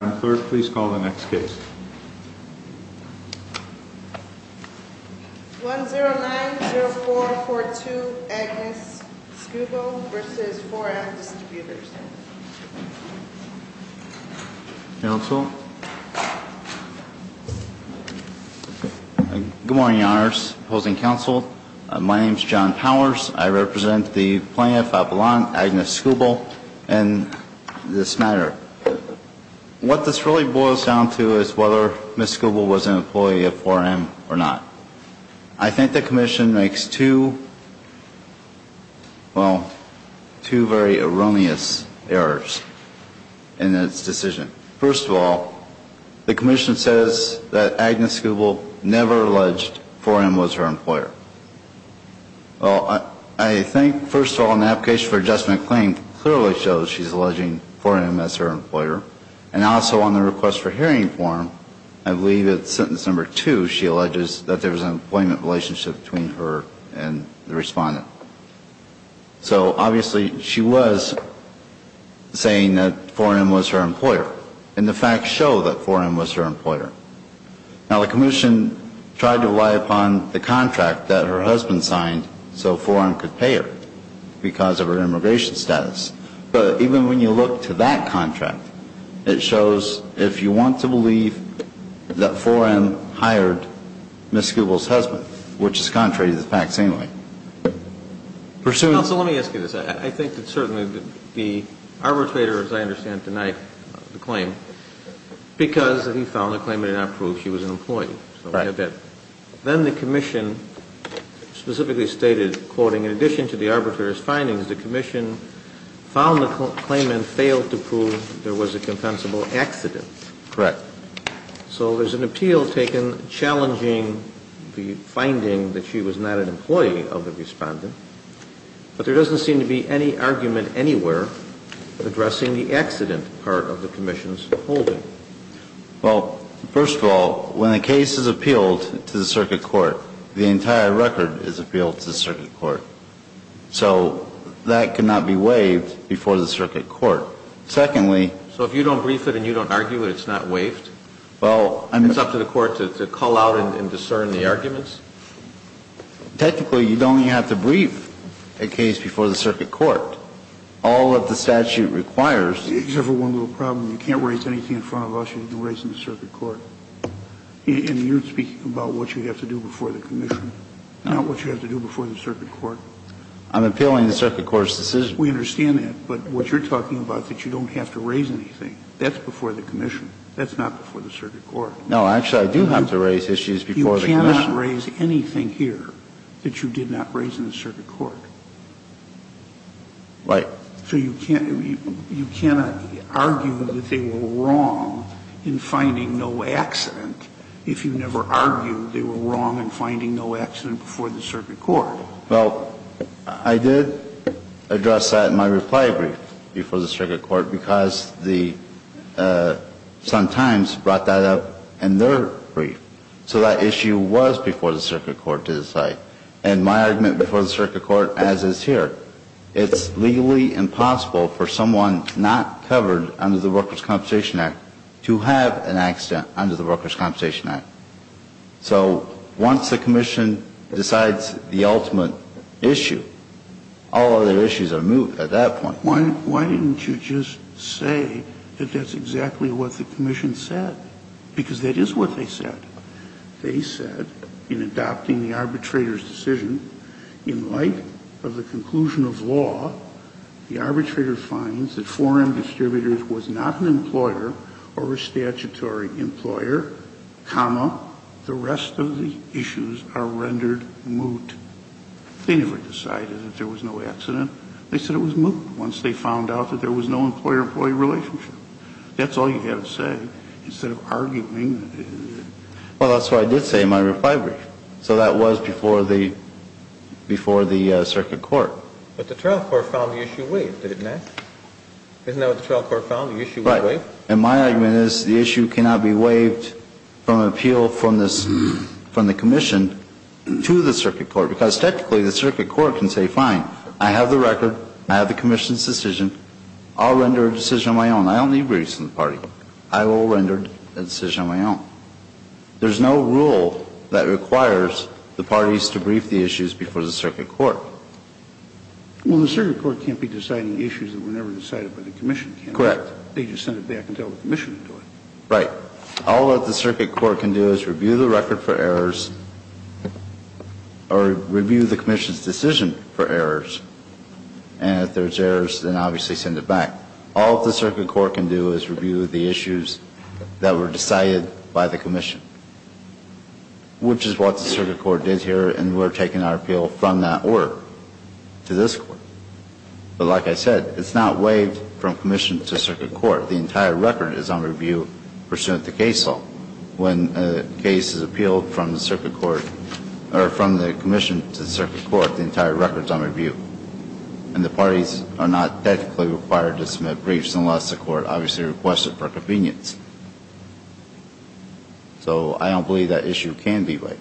On 3rd, please call the next case. 1090442 Agnes Skubel v. 4M Distributors Counsel? Good morning, Your Honors. Opposing Counsel, my name is John Powers. I represent the plaintiff, Avalon Agnes Skubel, in this matter. What this really boils down to is whether Ms. Skubel was an employee of 4M or not. I think the Commission makes two, well, two very erroneous errors in its decision. First of all, the Commission says that Agnes Skubel never alleged 4M was her employer. Well, I think, first of all, an application for adjustment claim clearly shows she's alleging 4M as her employer. And also on the request for hearing form, I believe it's sentence number two, she alleges that there was an employment relationship between her and the respondent. So, obviously, she was saying that 4M was her employer. And the facts show that 4M was her employer. Now, the Commission tried to rely upon the contract that her husband signed so 4M could pay her because of her immigration status. But even when you look to that contract, it shows if you want to believe that 4M hired Ms. Skubel's husband, which is contrary to the facts anyway. Counsel, let me ask you this. I think that certainly the arbitrator, as I understand tonight, the claim, because he found the claim did not prove she was an employee. Then the Commission specifically stated, quoting, in addition to the arbitrator's findings, the Commission found the claim and failed to prove there was a compensable accident. Correct. So there's an appeal taken challenging the finding that she was not an employee of the respondent. But there doesn't seem to be any argument anywhere addressing the accident part of the Commission's holding. Well, first of all, when a case is appealed to the circuit court, the entire record is appealed to the circuit court. So that cannot be waived before the circuit court. Secondly. So if you don't brief it and you don't argue it, it's not waived? Well, I mean. It's up to the court to call out and discern the arguments? Technically, you only have to brief a case before the circuit court. All that the statute requires. Except for one little problem. You can't raise anything in front of us. You can raise it in the circuit court. And you're speaking about what you have to do before the Commission, not what you have to do before the circuit court. I'm appealing the circuit court's decision. We understand that. But what you're talking about that you don't have to raise anything, that's before the Commission. That's not before the circuit court. No, actually, I do have to raise issues before the Commission. You cannot raise anything here that you did not raise in the circuit court. Right. So you can't argue that they were wrong in finding no accident if you never argued they were wrong in finding no accident before the circuit court. Well, I did address that in my reply brief before the circuit court because the Sun-Times brought that up in their brief. So that issue was before the circuit court to decide. And my argument before the circuit court, as is here, it's legally impossible for someone not covered under the Workers' Compensation Act to have an accident under the Workers' Compensation Act. So once the Commission decides the ultimate issue, all other issues are moved at that point. Why didn't you just say that that's exactly what the Commission said? Because that is what they said. They said in adopting the arbitrator's decision, in light of the conclusion of law, the arbitrator finds that 4M Distributors was not an employer or a statutory employer, comma, the rest of the issues are rendered moot. They never decided that there was no accident. They said it was moot once they found out that there was no employer-employee relationship. That's all you had to say instead of arguing. Well, that's what I did say in my reply brief. So that was before the circuit court. But the trial court found the issue waived, didn't it? Isn't that what the trial court found, the issue was waived? Correct. And my argument is the issue cannot be waived from an appeal from the Commission to the circuit court, because technically the circuit court can say, fine, I have the record, I have the Commission's decision, I'll render a decision on my own. I don't need briefs from the party. I will render a decision on my own. There's no rule that requires the parties to brief the issues before the circuit court. Well, the circuit court can't be deciding issues that were never decided by the Commission. Correct. They just send it back and tell the Commission to do it. Right. All that the circuit court can do is review the record for errors or review the Commission's decision for errors. And if there's errors, then obviously send it back. All the circuit court can do is review the issues that were decided by the Commission, which is what the circuit court did here, and we're taking our appeal from that order to this court. But like I said, it's not waived from Commission to circuit court. The entire record is on review pursuant to case law. When a case is appealed from the circuit court, or from the Commission to the circuit court, the entire record is on review. And the parties are not technically required to submit briefs unless the court obviously requests it for convenience. So I don't believe that issue can be waived.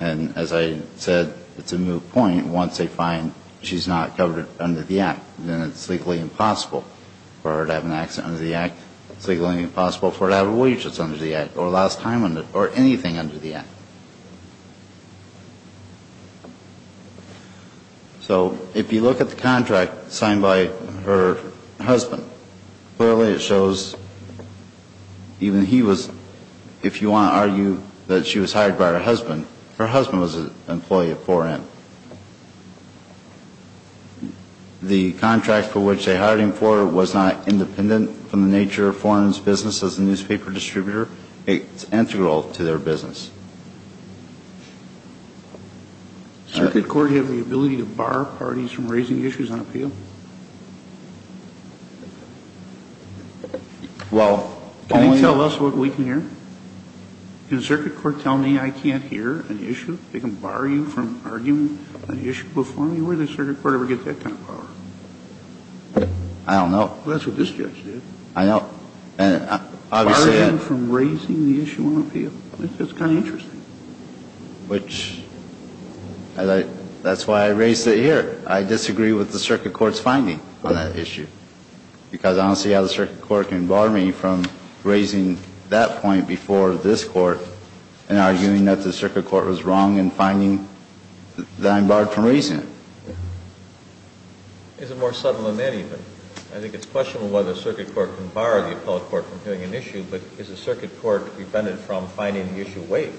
And as I said, it's a moot point. Once they find she's not covered under the Act, then it's legally impossible for her to have an accident under the Act. It's legally impossible for her to have a wage that's under the Act or last time under or anything under the Act. So if you look at the contract signed by her husband, clearly it shows even he was, if you want to argue that she was hired by her husband, her husband was an employee of 4N. The contract for which they hired him for was not independent from the nature of 4N's business as a newspaper distributor. It's integral to their business. Circuit court have the ability to bar parties from raising issues on appeal? Well, only on... Can circuit court tell me I can't hear an issue? They can bar you from arguing an issue before me? Where does circuit court ever get that kind of power? I don't know. That's what this judge did. I know. And obviously... Bar him from raising the issue on appeal? That's kind of interesting. Which, that's why I raised it here. I disagree with the circuit court's finding on that issue. Because I don't see how the circuit court can bar me from raising that point before this court and arguing that the circuit court was wrong in finding that I'm barred from raising it. Is it more subtle than that even? I think it's questionable whether circuit court can bar the appellate court from hearing an issue, but is the circuit court prevented from finding the issue? Wait.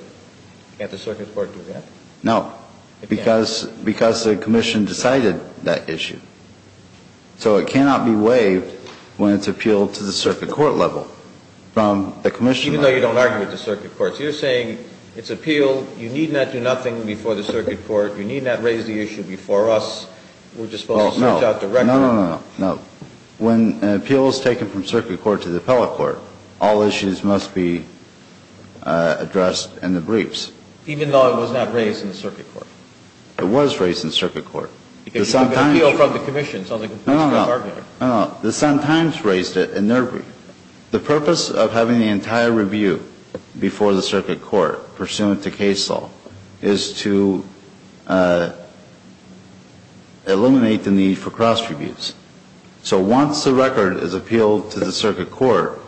Can't the circuit court do that? No. It can't. Because the commission decided that issue. So it cannot be waived when it's appealed to the circuit court level from the commission level. Even though you don't argue with the circuit court. So you're saying it's appeal, you need not do nothing before the circuit court, you need not raise the issue before us. We're just supposed to search out the record. No, no, no. When an appeal is taken from circuit court to the appellate court, all issues must be addressed in the briefs. Even though it was not raised in the circuit court. It was raised in circuit court. Appeal from the commission. No, no, no. The Sun-Times raised it in their brief. The purpose of having the entire review before the circuit court pursuant to case law is to eliminate the need for cross-reviews. So once the record is appealed to the circuit court,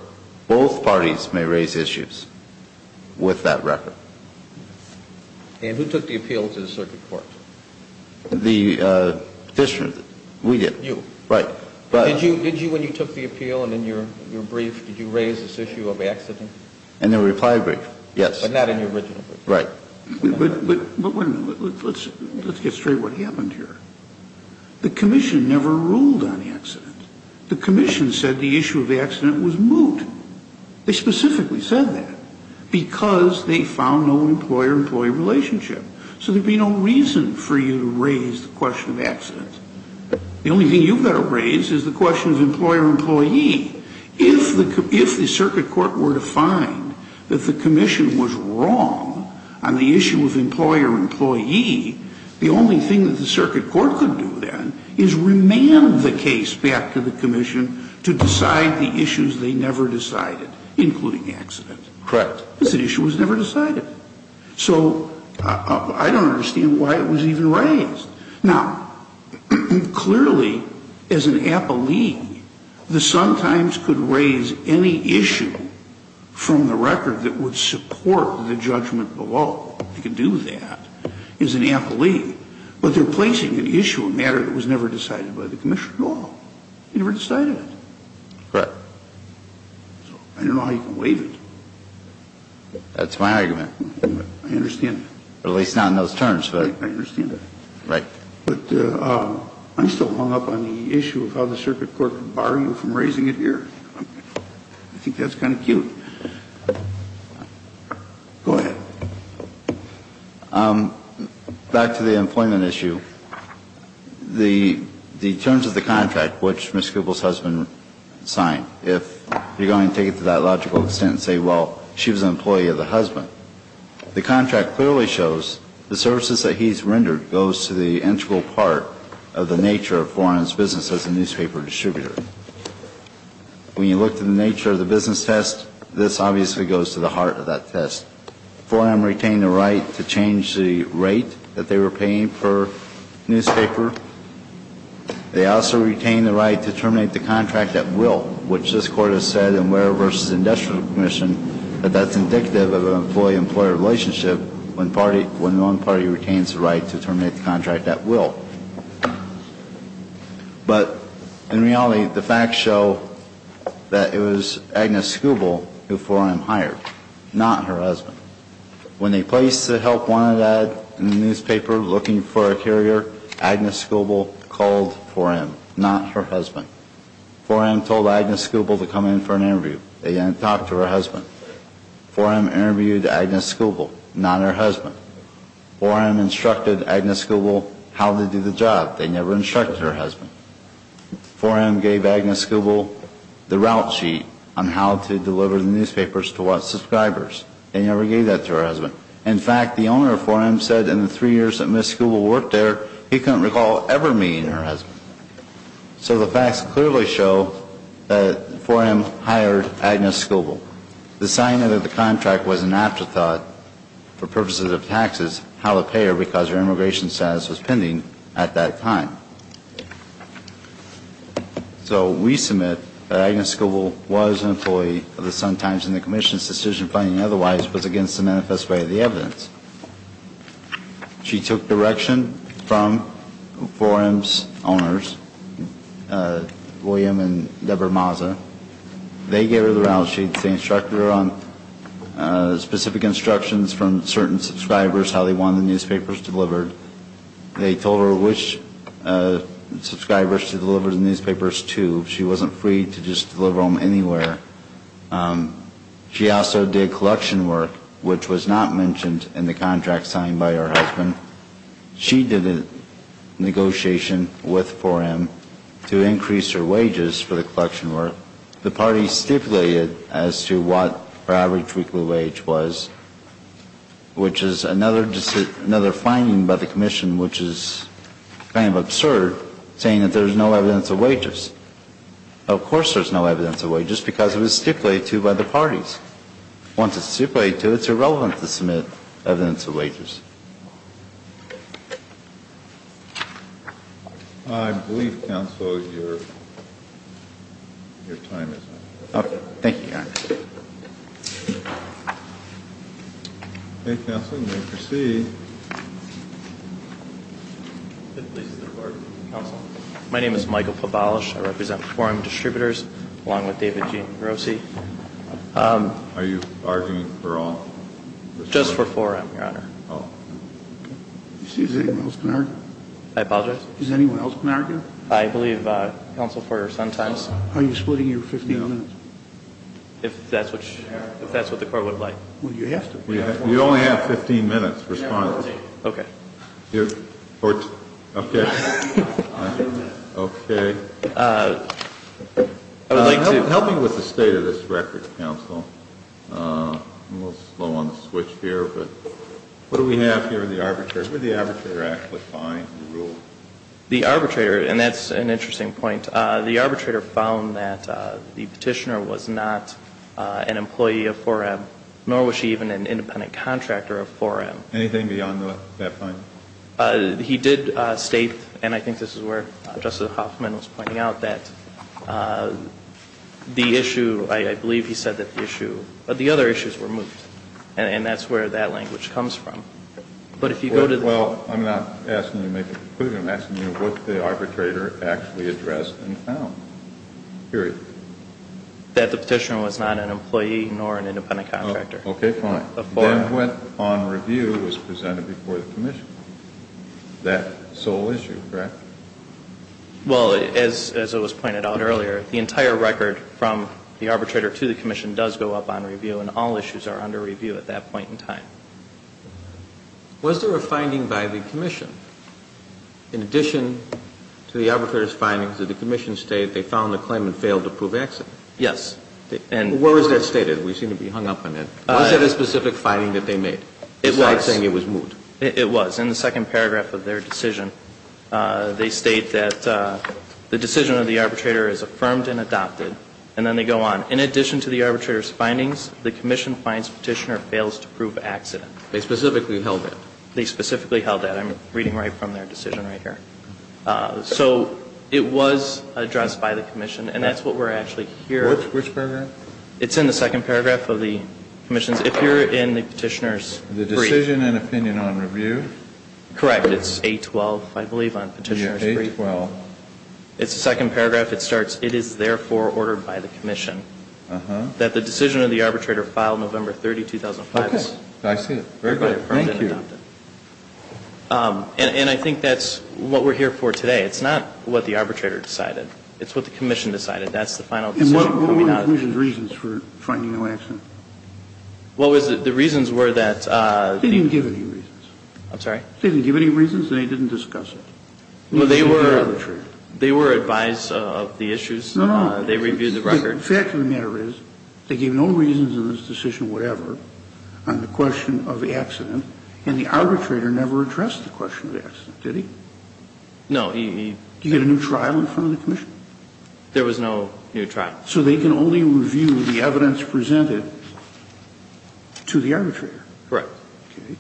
both parties may raise issues with that record. And who took the appeal to the circuit court? The district. We did. You. Right. Did you, when you took the appeal and in your brief, did you raise this issue of accident? In the reply brief, yes. But not in your original brief. Right. But wait a minute. Let's get straight what happened here. The commission never ruled on the accident. The commission said the issue of the accident was moot. They specifically said that because they found no employer-employee relationship. So there would be no reason for you to raise the question of accident. The only thing you've got to raise is the question of employer-employee. If the circuit court were to find that the commission was wrong on the issue of employer-employee, the only thing that the circuit court could do then is remand the case back to the commission to decide the issues they never decided, including accident. Correct. Because the issue was never decided. So I don't understand why it was even raised. Now, clearly, as an appellee, the Sun Times could raise any issue from the record that would support the judgment below. They could do that as an appellee. But they're placing an issue, a matter that was never decided by the commission at all. They never decided it. Correct. So I don't know how you can waive it. That's my argument. I understand. At least not in those terms. I understand that. Right. But I'm still hung up on the issue of how the circuit court could bar you from raising it here. I think that's kind of cute. Go ahead. Back to the employment issue. The terms of the contract, which Ms. Kubel's husband signed, if you're going to take it to that logical extent and say, well, she was an employee of the husband, the contract clearly shows the services that he's rendered goes to the integral part of the nature of 4M's business as a newspaper distributor. When you look to the nature of the business test, this obviously goes to the heart of that test. 4M retained the right to change the rate that they were paying per newspaper. They also retained the right to terminate the contract at will, which this Court has said in Ware v. Industrial Commission, that that's indicative of an employee-employer relationship when one party retains the right to terminate the contract at will. But in reality, the facts show that it was Agnes Kubel who 4M hired, not her husband. When they placed the help wanted ad in the newspaper looking for a carrier, Agnes Kubel called 4M, not her husband. 4M told Agnes Kubel to come in for an interview. They didn't talk to her husband. 4M interviewed Agnes Kubel, not her husband. 4M instructed Agnes Kubel how to do the job. They never instructed her husband. 4M gave Agnes Kubel the route sheet on how to deliver the newspapers to what subscribers. They never gave that to her husband. In fact, the owner of 4M said in the three years that Ms. Kubel worked there, he couldn't recall ever meeting her husband. So the facts clearly show that 4M hired Agnes Kubel. The signing of the contract was an afterthought for purposes of taxes, how to pay her because her immigration status was pending at that time. So we submit that Agnes Kubel was an employee of the Sun-Times and the Commission's decision finding otherwise was against the manifest way of the evidence. She took direction from 4M's owners, William and Deborah Mazza. They gave her the route sheet. They instructed her on specific instructions from certain subscribers, how they wanted the newspapers delivered. They told her which subscribers to deliver the newspapers to. She wasn't free to just deliver them anywhere. She also did collection work, which was not mentioned in the contract signed by her husband. She did a negotiation with 4M to increase her wages for the collection work. The party stipulated as to what her average weekly wage was, which is another finding by the Commission, which is kind of absurd, saying that there's no evidence of wages. Of course there's no evidence of wages because it was stipulated to by the parties. Once it's stipulated to, it's irrelevant to submit evidence of wages. I believe, Counselor, your time is up. Thank you, Your Honor. Okay, Counselor, you may proceed. My name is Michael Pobolish. I represent 4M Distributors along with David Rosi. Are you arguing for all? Just for 4M, Your Honor. Oh. Excuse me, is anyone else going to argue? I apologize? Is anyone else going to argue? I believe, Counsel, for your son's time. Are you splitting your 15 minutes? If that's what the court would like. Well, you have to. We only have 15 minutes for responses. Okay. Okay. Help me with the state of this record, Counsel. I'm a little slow on the switch here, but what do we have here with the arbitrator? Where did the arbitrator actually find the rule? The arbitrator, and that's an interesting point, the arbitrator found that the petitioner was not an employee of 4M, nor was she even an independent contractor of 4M. Anything beyond that point? He did state, and I think this is where Justice Hoffman was pointing out, that the issue, I believe he said that the other issues were moved, and that's where that language comes from. Well, I'm not asking you to make a conclusion. I'm asking you what the arbitrator actually addressed and found, period. That the petitioner was not an employee nor an independent contractor. Okay, fine. Then what on review was presented before the commission? That sole issue, correct? Well, as it was pointed out earlier, the entire record from the arbitrator to the commission does go up on review, and all issues are under review at that point in time. Was there a finding by the commission? In addition to the arbitrator's findings, did the commission state they found the claim and failed to prove accident? Yes. Where was that stated? We seem to be hung up on that. Was that a specific finding that they made? It was. Instead of saying it was moved? It was. It's in the second paragraph of their decision. They state that the decision of the arbitrator is affirmed and adopted, and then they go on. In addition to the arbitrator's findings, the commission finds petitioner fails to prove accident. They specifically held it. They specifically held it. I'm reading right from their decision right here. So it was addressed by the commission, and that's what we're actually hearing. Which paragraph? It's in the second paragraph of the commission's. If you're in the petitioner's brief. The decision and opinion on review? Correct. It's 812, I believe, on petitioner's brief. Yeah, 812. It's the second paragraph. It starts, it is therefore ordered by the commission. Uh-huh. That the decision of the arbitrator filed November 30, 2005. Okay. I see it. Very good. Thank you. And I think that's what we're here for today. It's not what the arbitrator decided. It's what the commission decided. That's the final decision. And what were the reasons for finding no accident? What was it? The reasons were that. They didn't give any reasons. I'm sorry? They didn't give any reasons, and they didn't discuss it. Well, they were advised of the issues. No, no. They reviewed the record. The fact of the matter is they gave no reasons in this decision whatever on the question of the accident, and the arbitrator never addressed the question of the accident, did he? No, he. Did you get a new trial in front of the commission? There was no new trial. So they can only review the evidence presented to the arbitrator? Correct. Okay.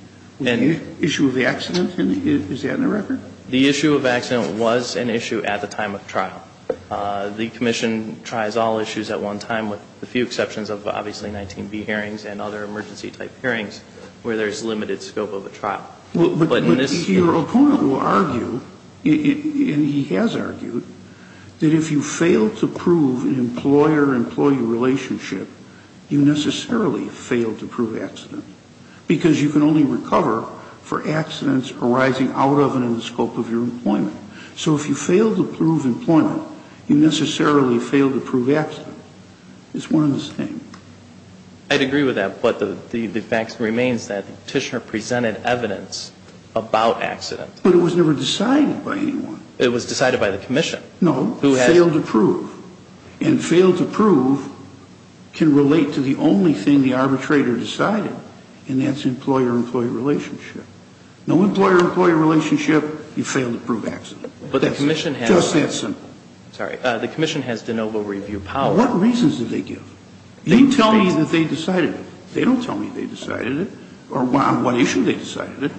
The issue of the accident, is that in the record? The issue of accident was an issue at the time of trial. The commission tries all issues at one time with a few exceptions of, obviously, 19B hearings and other emergency-type hearings where there's limited scope of a trial. But your opponent will argue, and he has argued, that if you fail to prove an employer-employee relationship, you necessarily fail to prove accident, because you can only recover for accidents arising out of and in the scope of your employment. So if you fail to prove employment, you necessarily fail to prove accident. It's one and the same. I'd agree with that. But the fact remains that Tishner presented evidence about accident. But it was never decided by anyone. It was decided by the commission. No. Failed to prove. And failed to prove can relate to the only thing the arbitrator decided, and that's employer-employee relationship. No employer-employee relationship, you fail to prove accident. Just that simple. Sorry. The commission has de novo review power. What reasons did they give? You tell me that they decided it. They don't tell me they decided it, or on what issue they decided it.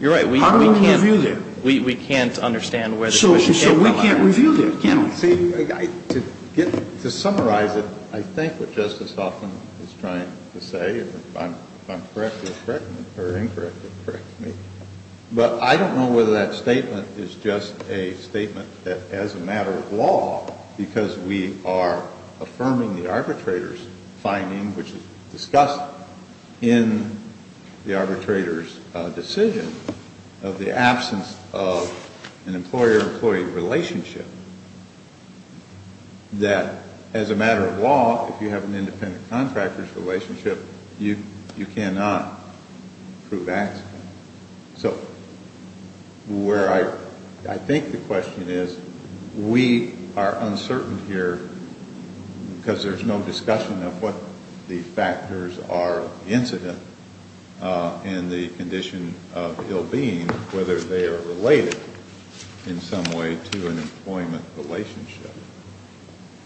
You're right. How do we review that? We can't understand where the commission came from. So we can't review that, can we? See, to summarize it, I think what Justice Hoffman is trying to say, if I'm correct or incorrect, correct me. But I don't know whether that statement is just a statement that as a matter of law, because we are affirming the arbitrator's finding, which is discussed in the arbitrator's decision of the absence of an employer-employee relationship, that as a matter of law, if you have an independent contractor's relationship, you cannot prove accident. So where I think the question is, we are uncertain here because there's no discussion of what the factors are of the incident and the condition of ill-being, whether they are related in some way to an employment relationship.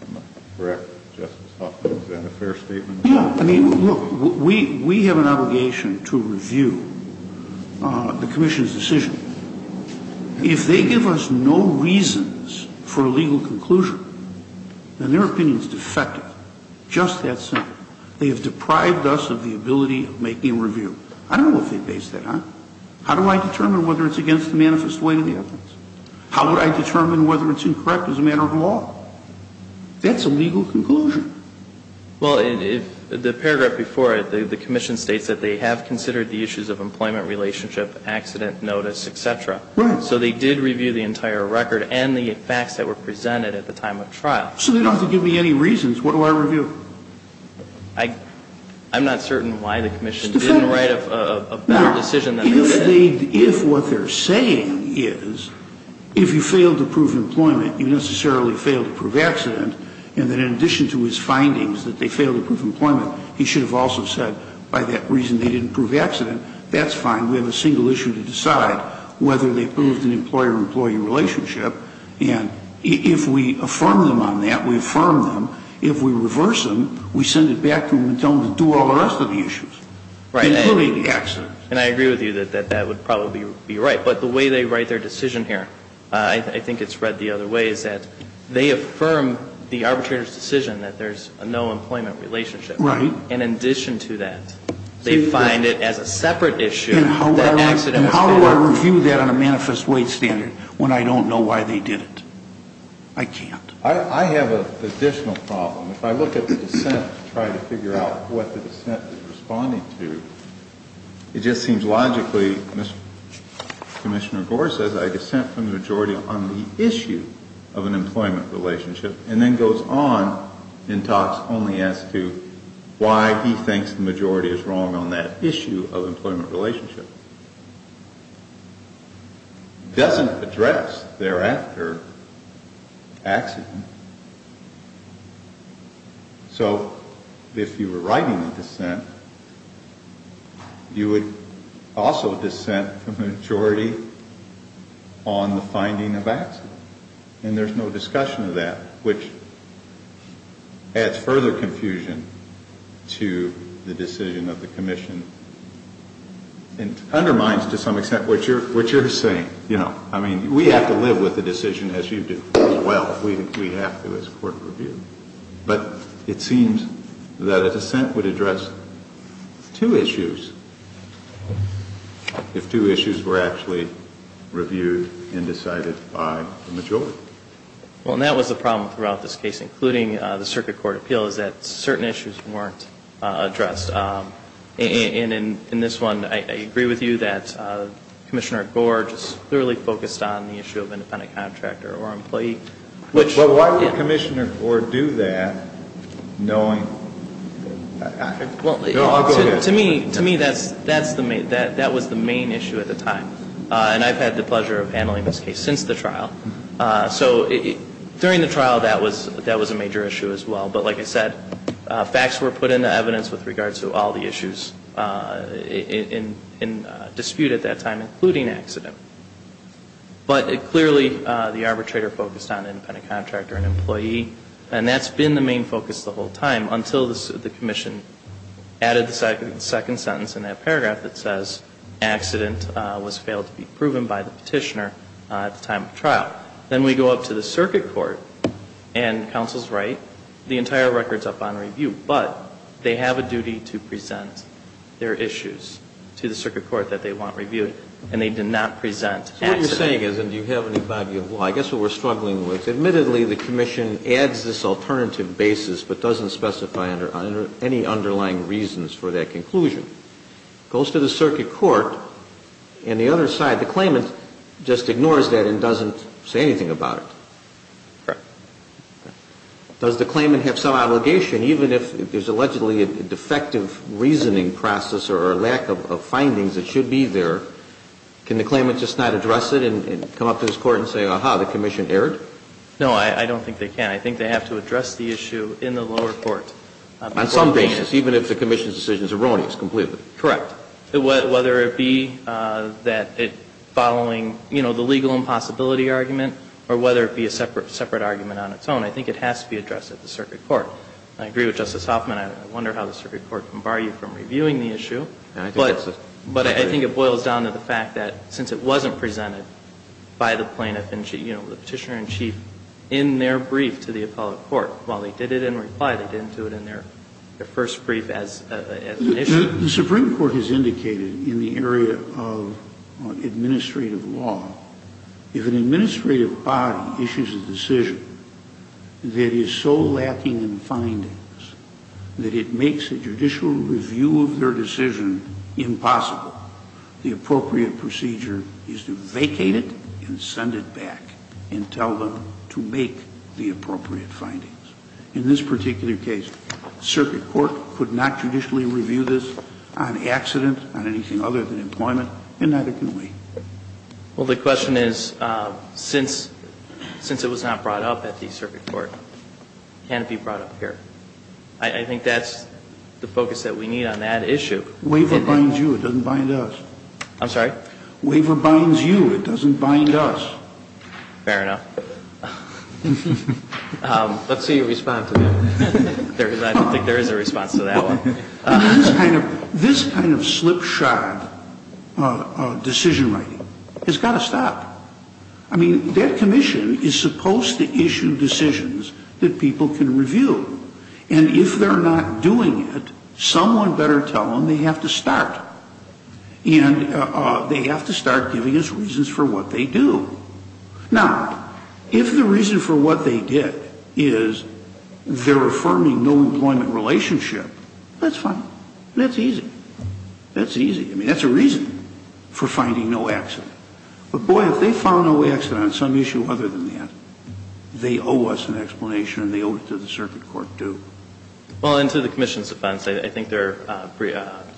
Am I correct, Justice Hoffman? Is that a fair statement? No. I mean, look, we have an obligation to review the commission's decision. If they give us no reasons for a legal conclusion, then their opinion is defective, just that simple. They have deprived us of the ability of making a review. I don't know if they base that on how do I determine whether it's against the manifest way of the evidence? How would I determine whether it's incorrect as a matter of law? That's a legal conclusion. Well, the paragraph before it, the commission states that they have considered the issues of employment relationship, accident notice, et cetera. Right. So they did review the entire record and the facts that were presented at the time of trial. So they don't have to give me any reasons. What do I review? I'm not certain why the commission didn't write a better decision than they did. If what they're saying is if you fail to prove employment, you necessarily fail to prove accident, and that in addition to his findings that they fail to prove employment, he should have also said by that reason they didn't prove accident, that's fine. We have a single issue to decide whether they proved an employer-employee relationship. And if we affirm them on that, we affirm them. If we reverse them, we send it back to them and tell them to do all the rest of the issues, including accidents. And I agree with you that that would probably be right. But the way they write their decision here, I think it's read the other way, is that they affirm the arbitrator's decision that there's a no employment relationship. Right. And in addition to that, they find it as a separate issue that accident was found. And how do I review that on a manifest wage standard when I don't know why they did it? I can't. I have an additional problem. If I look at the dissent to try to figure out what the dissent is responding to, it just seems logically, Commissioner Gore says, I dissent from the majority on the issue of an employment relationship. And then goes on and talks only as to why he thinks the majority is wrong on that issue of employment relationship. Doesn't address thereafter accident. So, if you were writing the dissent, you would also dissent from the majority on the finding of accident. And there's no discussion of that, which adds further confusion to the decision of the commission. And undermines, to some extent, what you're saying. I mean, we have to live with the decision as you do. Well, we have to as court reviewed. But it seems that a dissent would address two issues. If two issues were actually reviewed and decided by the majority. Well, and that was the problem throughout this case, including the circuit court appeal, is that certain issues weren't addressed. And in this one, I agree with you that Commissioner Gore just clearly focused on the issue of independent contractor or employee. But why would Commissioner Gore do that, knowing? To me, that was the main issue at the time. And I've had the pleasure of handling this case since the trial. So, during the trial, that was a major issue as well. But like I said, facts were put into evidence with regards to all the issues in dispute at that time, including accident. But it clearly, the arbitrator focused on independent contractor and employee. And that's been the main focus the whole time, until the commission added the second sentence in that paragraph that says accident was failed to be proven by the petitioner at the time of trial. Then we go up to the circuit court, and counsel's right. The entire record's up on review. But they have a duty to present their issues to the circuit court that they want to present. What you're saying is, and do you have any body of law? I guess what we're struggling with, admittedly, the commission adds this alternative basis but doesn't specify any underlying reasons for that conclusion. Goes to the circuit court, and the other side, the claimant, just ignores that and doesn't say anything about it. Correct. Does the claimant have some obligation, even if there's allegedly a defective reasoning process or a lack of findings that should be there? Can the claimant just not address it and come up to this court and say, ah-ha, the commission erred? No, I don't think they can. I think they have to address the issue in the lower court. On some basis, even if the commission's decision is erroneous, completely. Correct. Whether it be that it following, you know, the legal impossibility argument, or whether it be a separate argument on its own, I think it has to be addressed at the circuit court. I agree with Justice Hoffman. I wonder how the circuit court can bar you from reviewing the issue. But I think it boils down to the fact that since it wasn't presented by the plaintiff and, you know, the Petitioner-in-Chief in their brief to the appellate court, while they did it in reply, they didn't do it in their first brief as an issue. The Supreme Court has indicated in the area of administrative law, if an administrative body issues a decision that is so lacking in findings that it makes a judicial review of their decision impossible, the appropriate procedure is to vacate it and send it back and tell them to make the appropriate findings. In this particular case, circuit court could not judicially review this on accident, on anything other than employment, and neither can we. Well, the question is, since it was not brought up at the circuit court, can it be brought up here? I think that's the focus that we need on that issue. Waiver binds you. It doesn't bind us. I'm sorry? Waiver binds you. It doesn't bind us. Fair enough. Let's see your response to that. I don't think there is a response to that one. This kind of slipshod decision writing has got to stop. I mean, that commission is supposed to issue decisions that people can review. And if they're not doing it, someone better tell them they have to start. And they have to start giving us reasons for what they do. Now, if the reason for what they did is they're affirming no employment relationship, that's fine. That's easy. That's easy. I mean, that's a reason for finding no accident. But, boy, if they found no accident on some issue other than that, they owe us an explanation and they owe it to the circuit court, too. Well, and to the commission's offense, I think their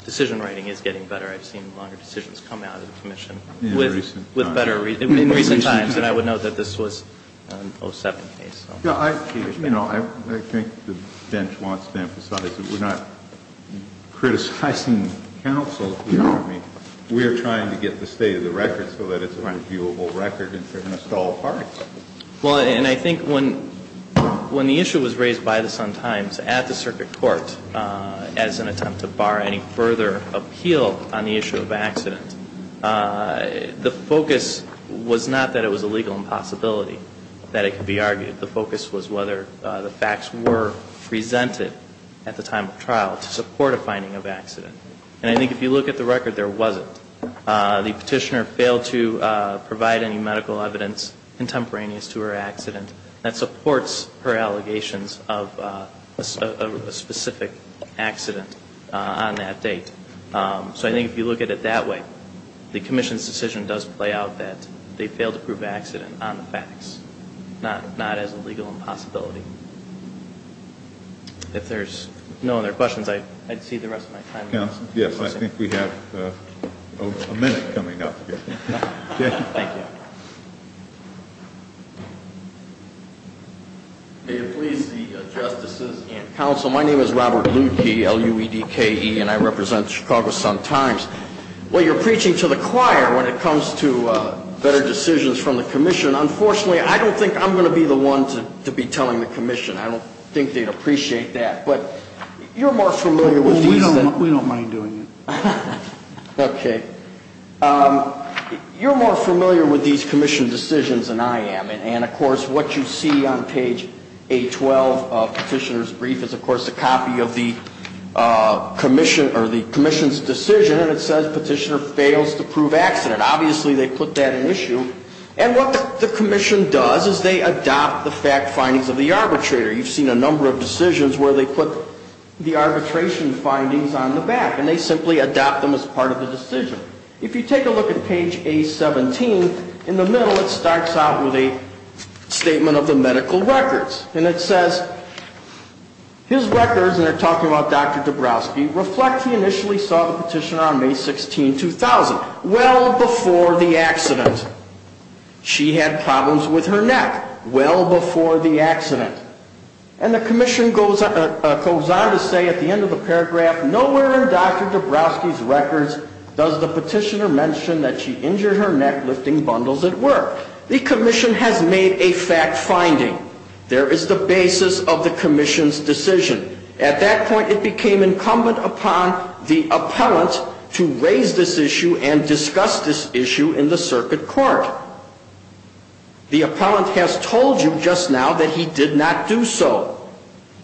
decision writing is getting better. I've seen longer decisions come out of the commission. In recent times. In recent times. And I would note that this was an 07 case. No, I think the bench wants to emphasize that we're not criticizing counsel. We are trying to get the state of the record so that it's a reviewable record and they're missed all parts. Well, and I think when the issue was raised by the Sun-Times at the circuit court as an attempt to bar any further appeal on the issue of accident, the focus was not that it was a legal impossibility that it could be argued. The focus was whether the facts were presented at the time of trial to support a finding of accident. And I think if you look at the record, there wasn't. The petitioner failed to provide any medical evidence contemporaneous to her accident that supports her allegations of a specific accident on that date. So I think if you look at it that way, the commission's decision does play out that they failed to prove accident on the facts, not as a legal impossibility. If there's no other questions, I'd see the rest of my time. Thank you, counsel. Yes, I think we have a minute coming up. Thank you. May it please the justices and counsel, my name is Robert Ludke, L-U-E-D-K-E, and I represent Chicago Sun-Times. While you're preaching to the choir when it comes to better decisions from the commission, unfortunately, I don't think I'm going to be the one to be telling the commission. I don't think they'd appreciate that. But you're more familiar with these. We don't mind doing it. Okay. You're more familiar with these commission decisions than I am. And, of course, what you see on page 812 of the petitioner's brief is, of course, a copy of the commission's decision, and it says petitioner fails to prove accident. Obviously, they put that in issue. And what the commission does is they adopt the fact findings of the arbitrator. You've seen a number of decisions where they put the arbitration findings on the back, and they simply adopt them as part of the decision. If you take a look at page A-17, in the middle it starts out with a statement of the medical records. And it says, his records, and they're talking about Dr. Dabrowski, reflect he initially saw the petitioner on May 16, 2000, well before the accident. She had problems with her neck well before the accident. And the commission goes on to say at the end of the paragraph, nowhere in Dr. Dabrowski's records does the petitioner mention that she injured her neck lifting bundles at work. The commission has made a fact finding. There is the basis of the commission's decision. At that point, it became incumbent upon the appellant to raise this issue and discuss this issue in the circuit court. The appellant has told you just now that he did not do so.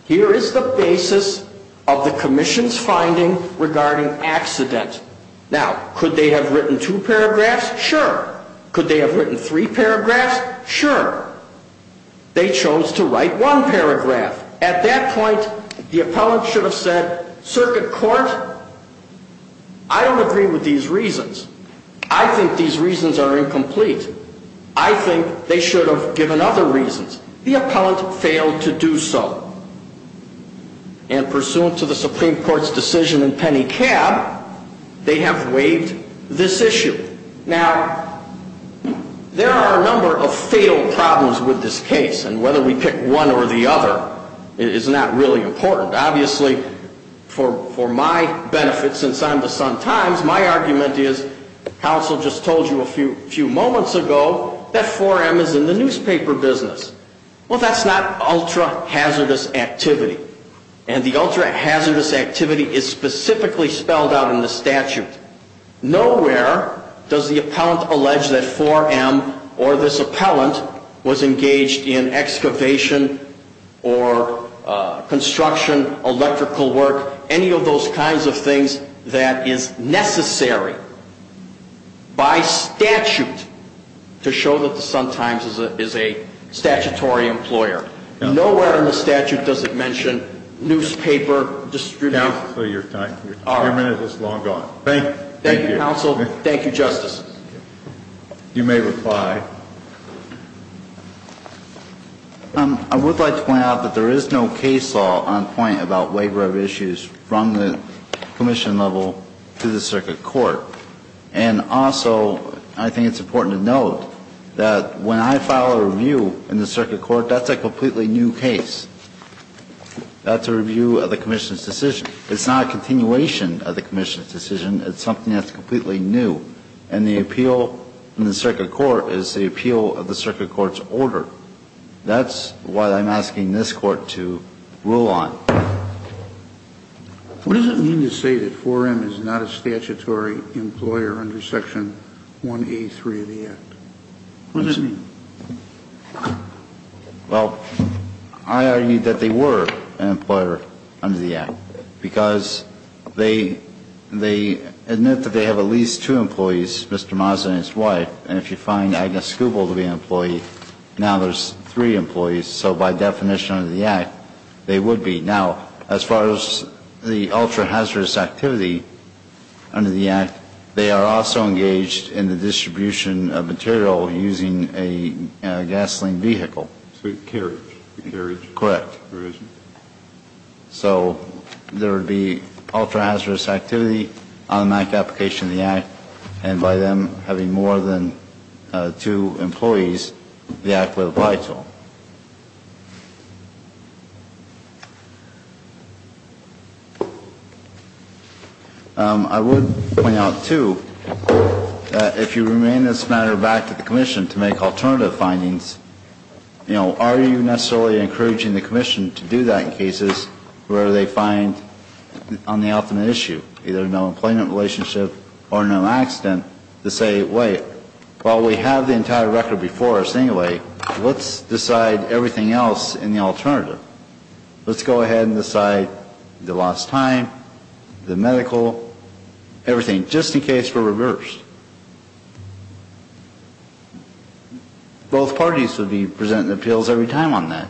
Here is the basis of the commission's finding regarding accident. Now, could they have written two paragraphs? Sure. Could they have written three paragraphs? Sure. They chose to write one paragraph. At that point, the appellant should have said, circuit court, I don't agree with these reasons. I think these reasons are incomplete. I think they should have given other reasons. The appellant failed to do so. And pursuant to the Supreme Court's decision in Penny Cab, they have waived this issue. Now, there are a number of fatal problems with this case. And whether we pick one or the other is not really important. Obviously, for my benefit, since I'm with Sun Times, my argument is, counsel just told you a few moments ago that 4M is in the newspaper business. Well, that's not ultra-hazardous activity. And the ultra-hazardous activity is specifically spelled out in the statute. Nowhere does the appellant allege that 4M or this appellant was engaged in electrical work, any of those kinds of things that is necessary by statute to show that the Sun Times is a statutory employer. Nowhere in the statute does it mention newspaper distribution. Counsel, your time. Your minute is long gone. Thank you. Thank you, counsel. Thank you, Justice. You may reply. I would like to point out that there is no case law on point about waiver of issues from the commission level to the circuit court. And also, I think it's important to note that when I file a review in the circuit court, that's a completely new case. That's a review of the commission's decision. It's not a continuation of the commission's decision. It's something that's completely new. And the appeal in the circuit court is the appeal of the circuit court's order. That's what I'm asking this court to rule on. What does it mean to say that 4M is not a statutory employer under Section 1A3 of the Act? What does it mean? Well, I argue that they were an employer under the Act because they admit that they have at least two employees, Mr. Mazza and his wife. And if you find Agnes Schuble to be an employee, now there's three employees. So by definition under the Act, they would be. Now, as far as the ultra-hazardous activity under the Act, they are also engaged in the distribution of material using a gasoline vehicle. Carriage. Carriage. Correct. Carriage. So there would be ultra-hazardous activity on the application of the Act. And by them having more than two employees, the Act would apply to them. I would point out, too, that if you remain this matter back to the commission to make alternative findings, you know, are you necessarily encouraging the commission to do that in cases where they find on the ultimate issue either no employment relationship or no accident to say, wait, while we have the entire record before us anyway, let's decide everything else in the alternative. Let's go ahead and decide the lost time, the medical, everything, just in case we're reversed. Both parties would be presenting appeals every time on that.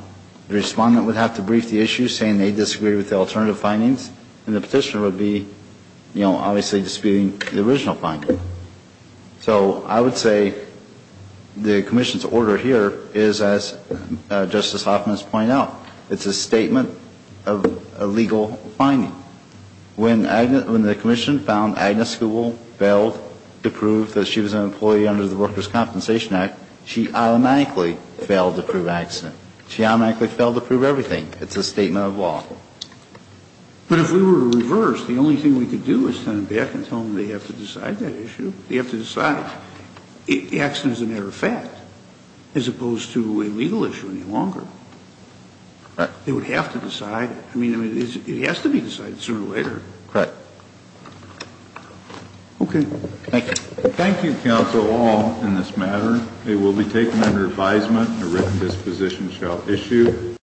The respondent would have to brief the issue saying they disagree with the alternative findings, and the petitioner would be, you know, obviously disputing the original finding. So I would say the commission's order here is, as Justice Hoffman has pointed out, it's a statement of a legal finding. When the commission found Agnes Gould failed to prove that she was an employee under the Workers' Compensation Act, she automatically failed to prove accident. She automatically failed to prove everything. It's a statement of law. But if we were reversed, the only thing we could do is turn it back and tell them they have to decide that issue. They have to decide. The accident is a matter of fact, as opposed to a legal issue any longer. They would have to decide it. I mean, it has to be decided sooner or later. Right. Okay. Thank you. Thank you, counsel, all, in this matter. It will be taken under advisement that this position shall issue.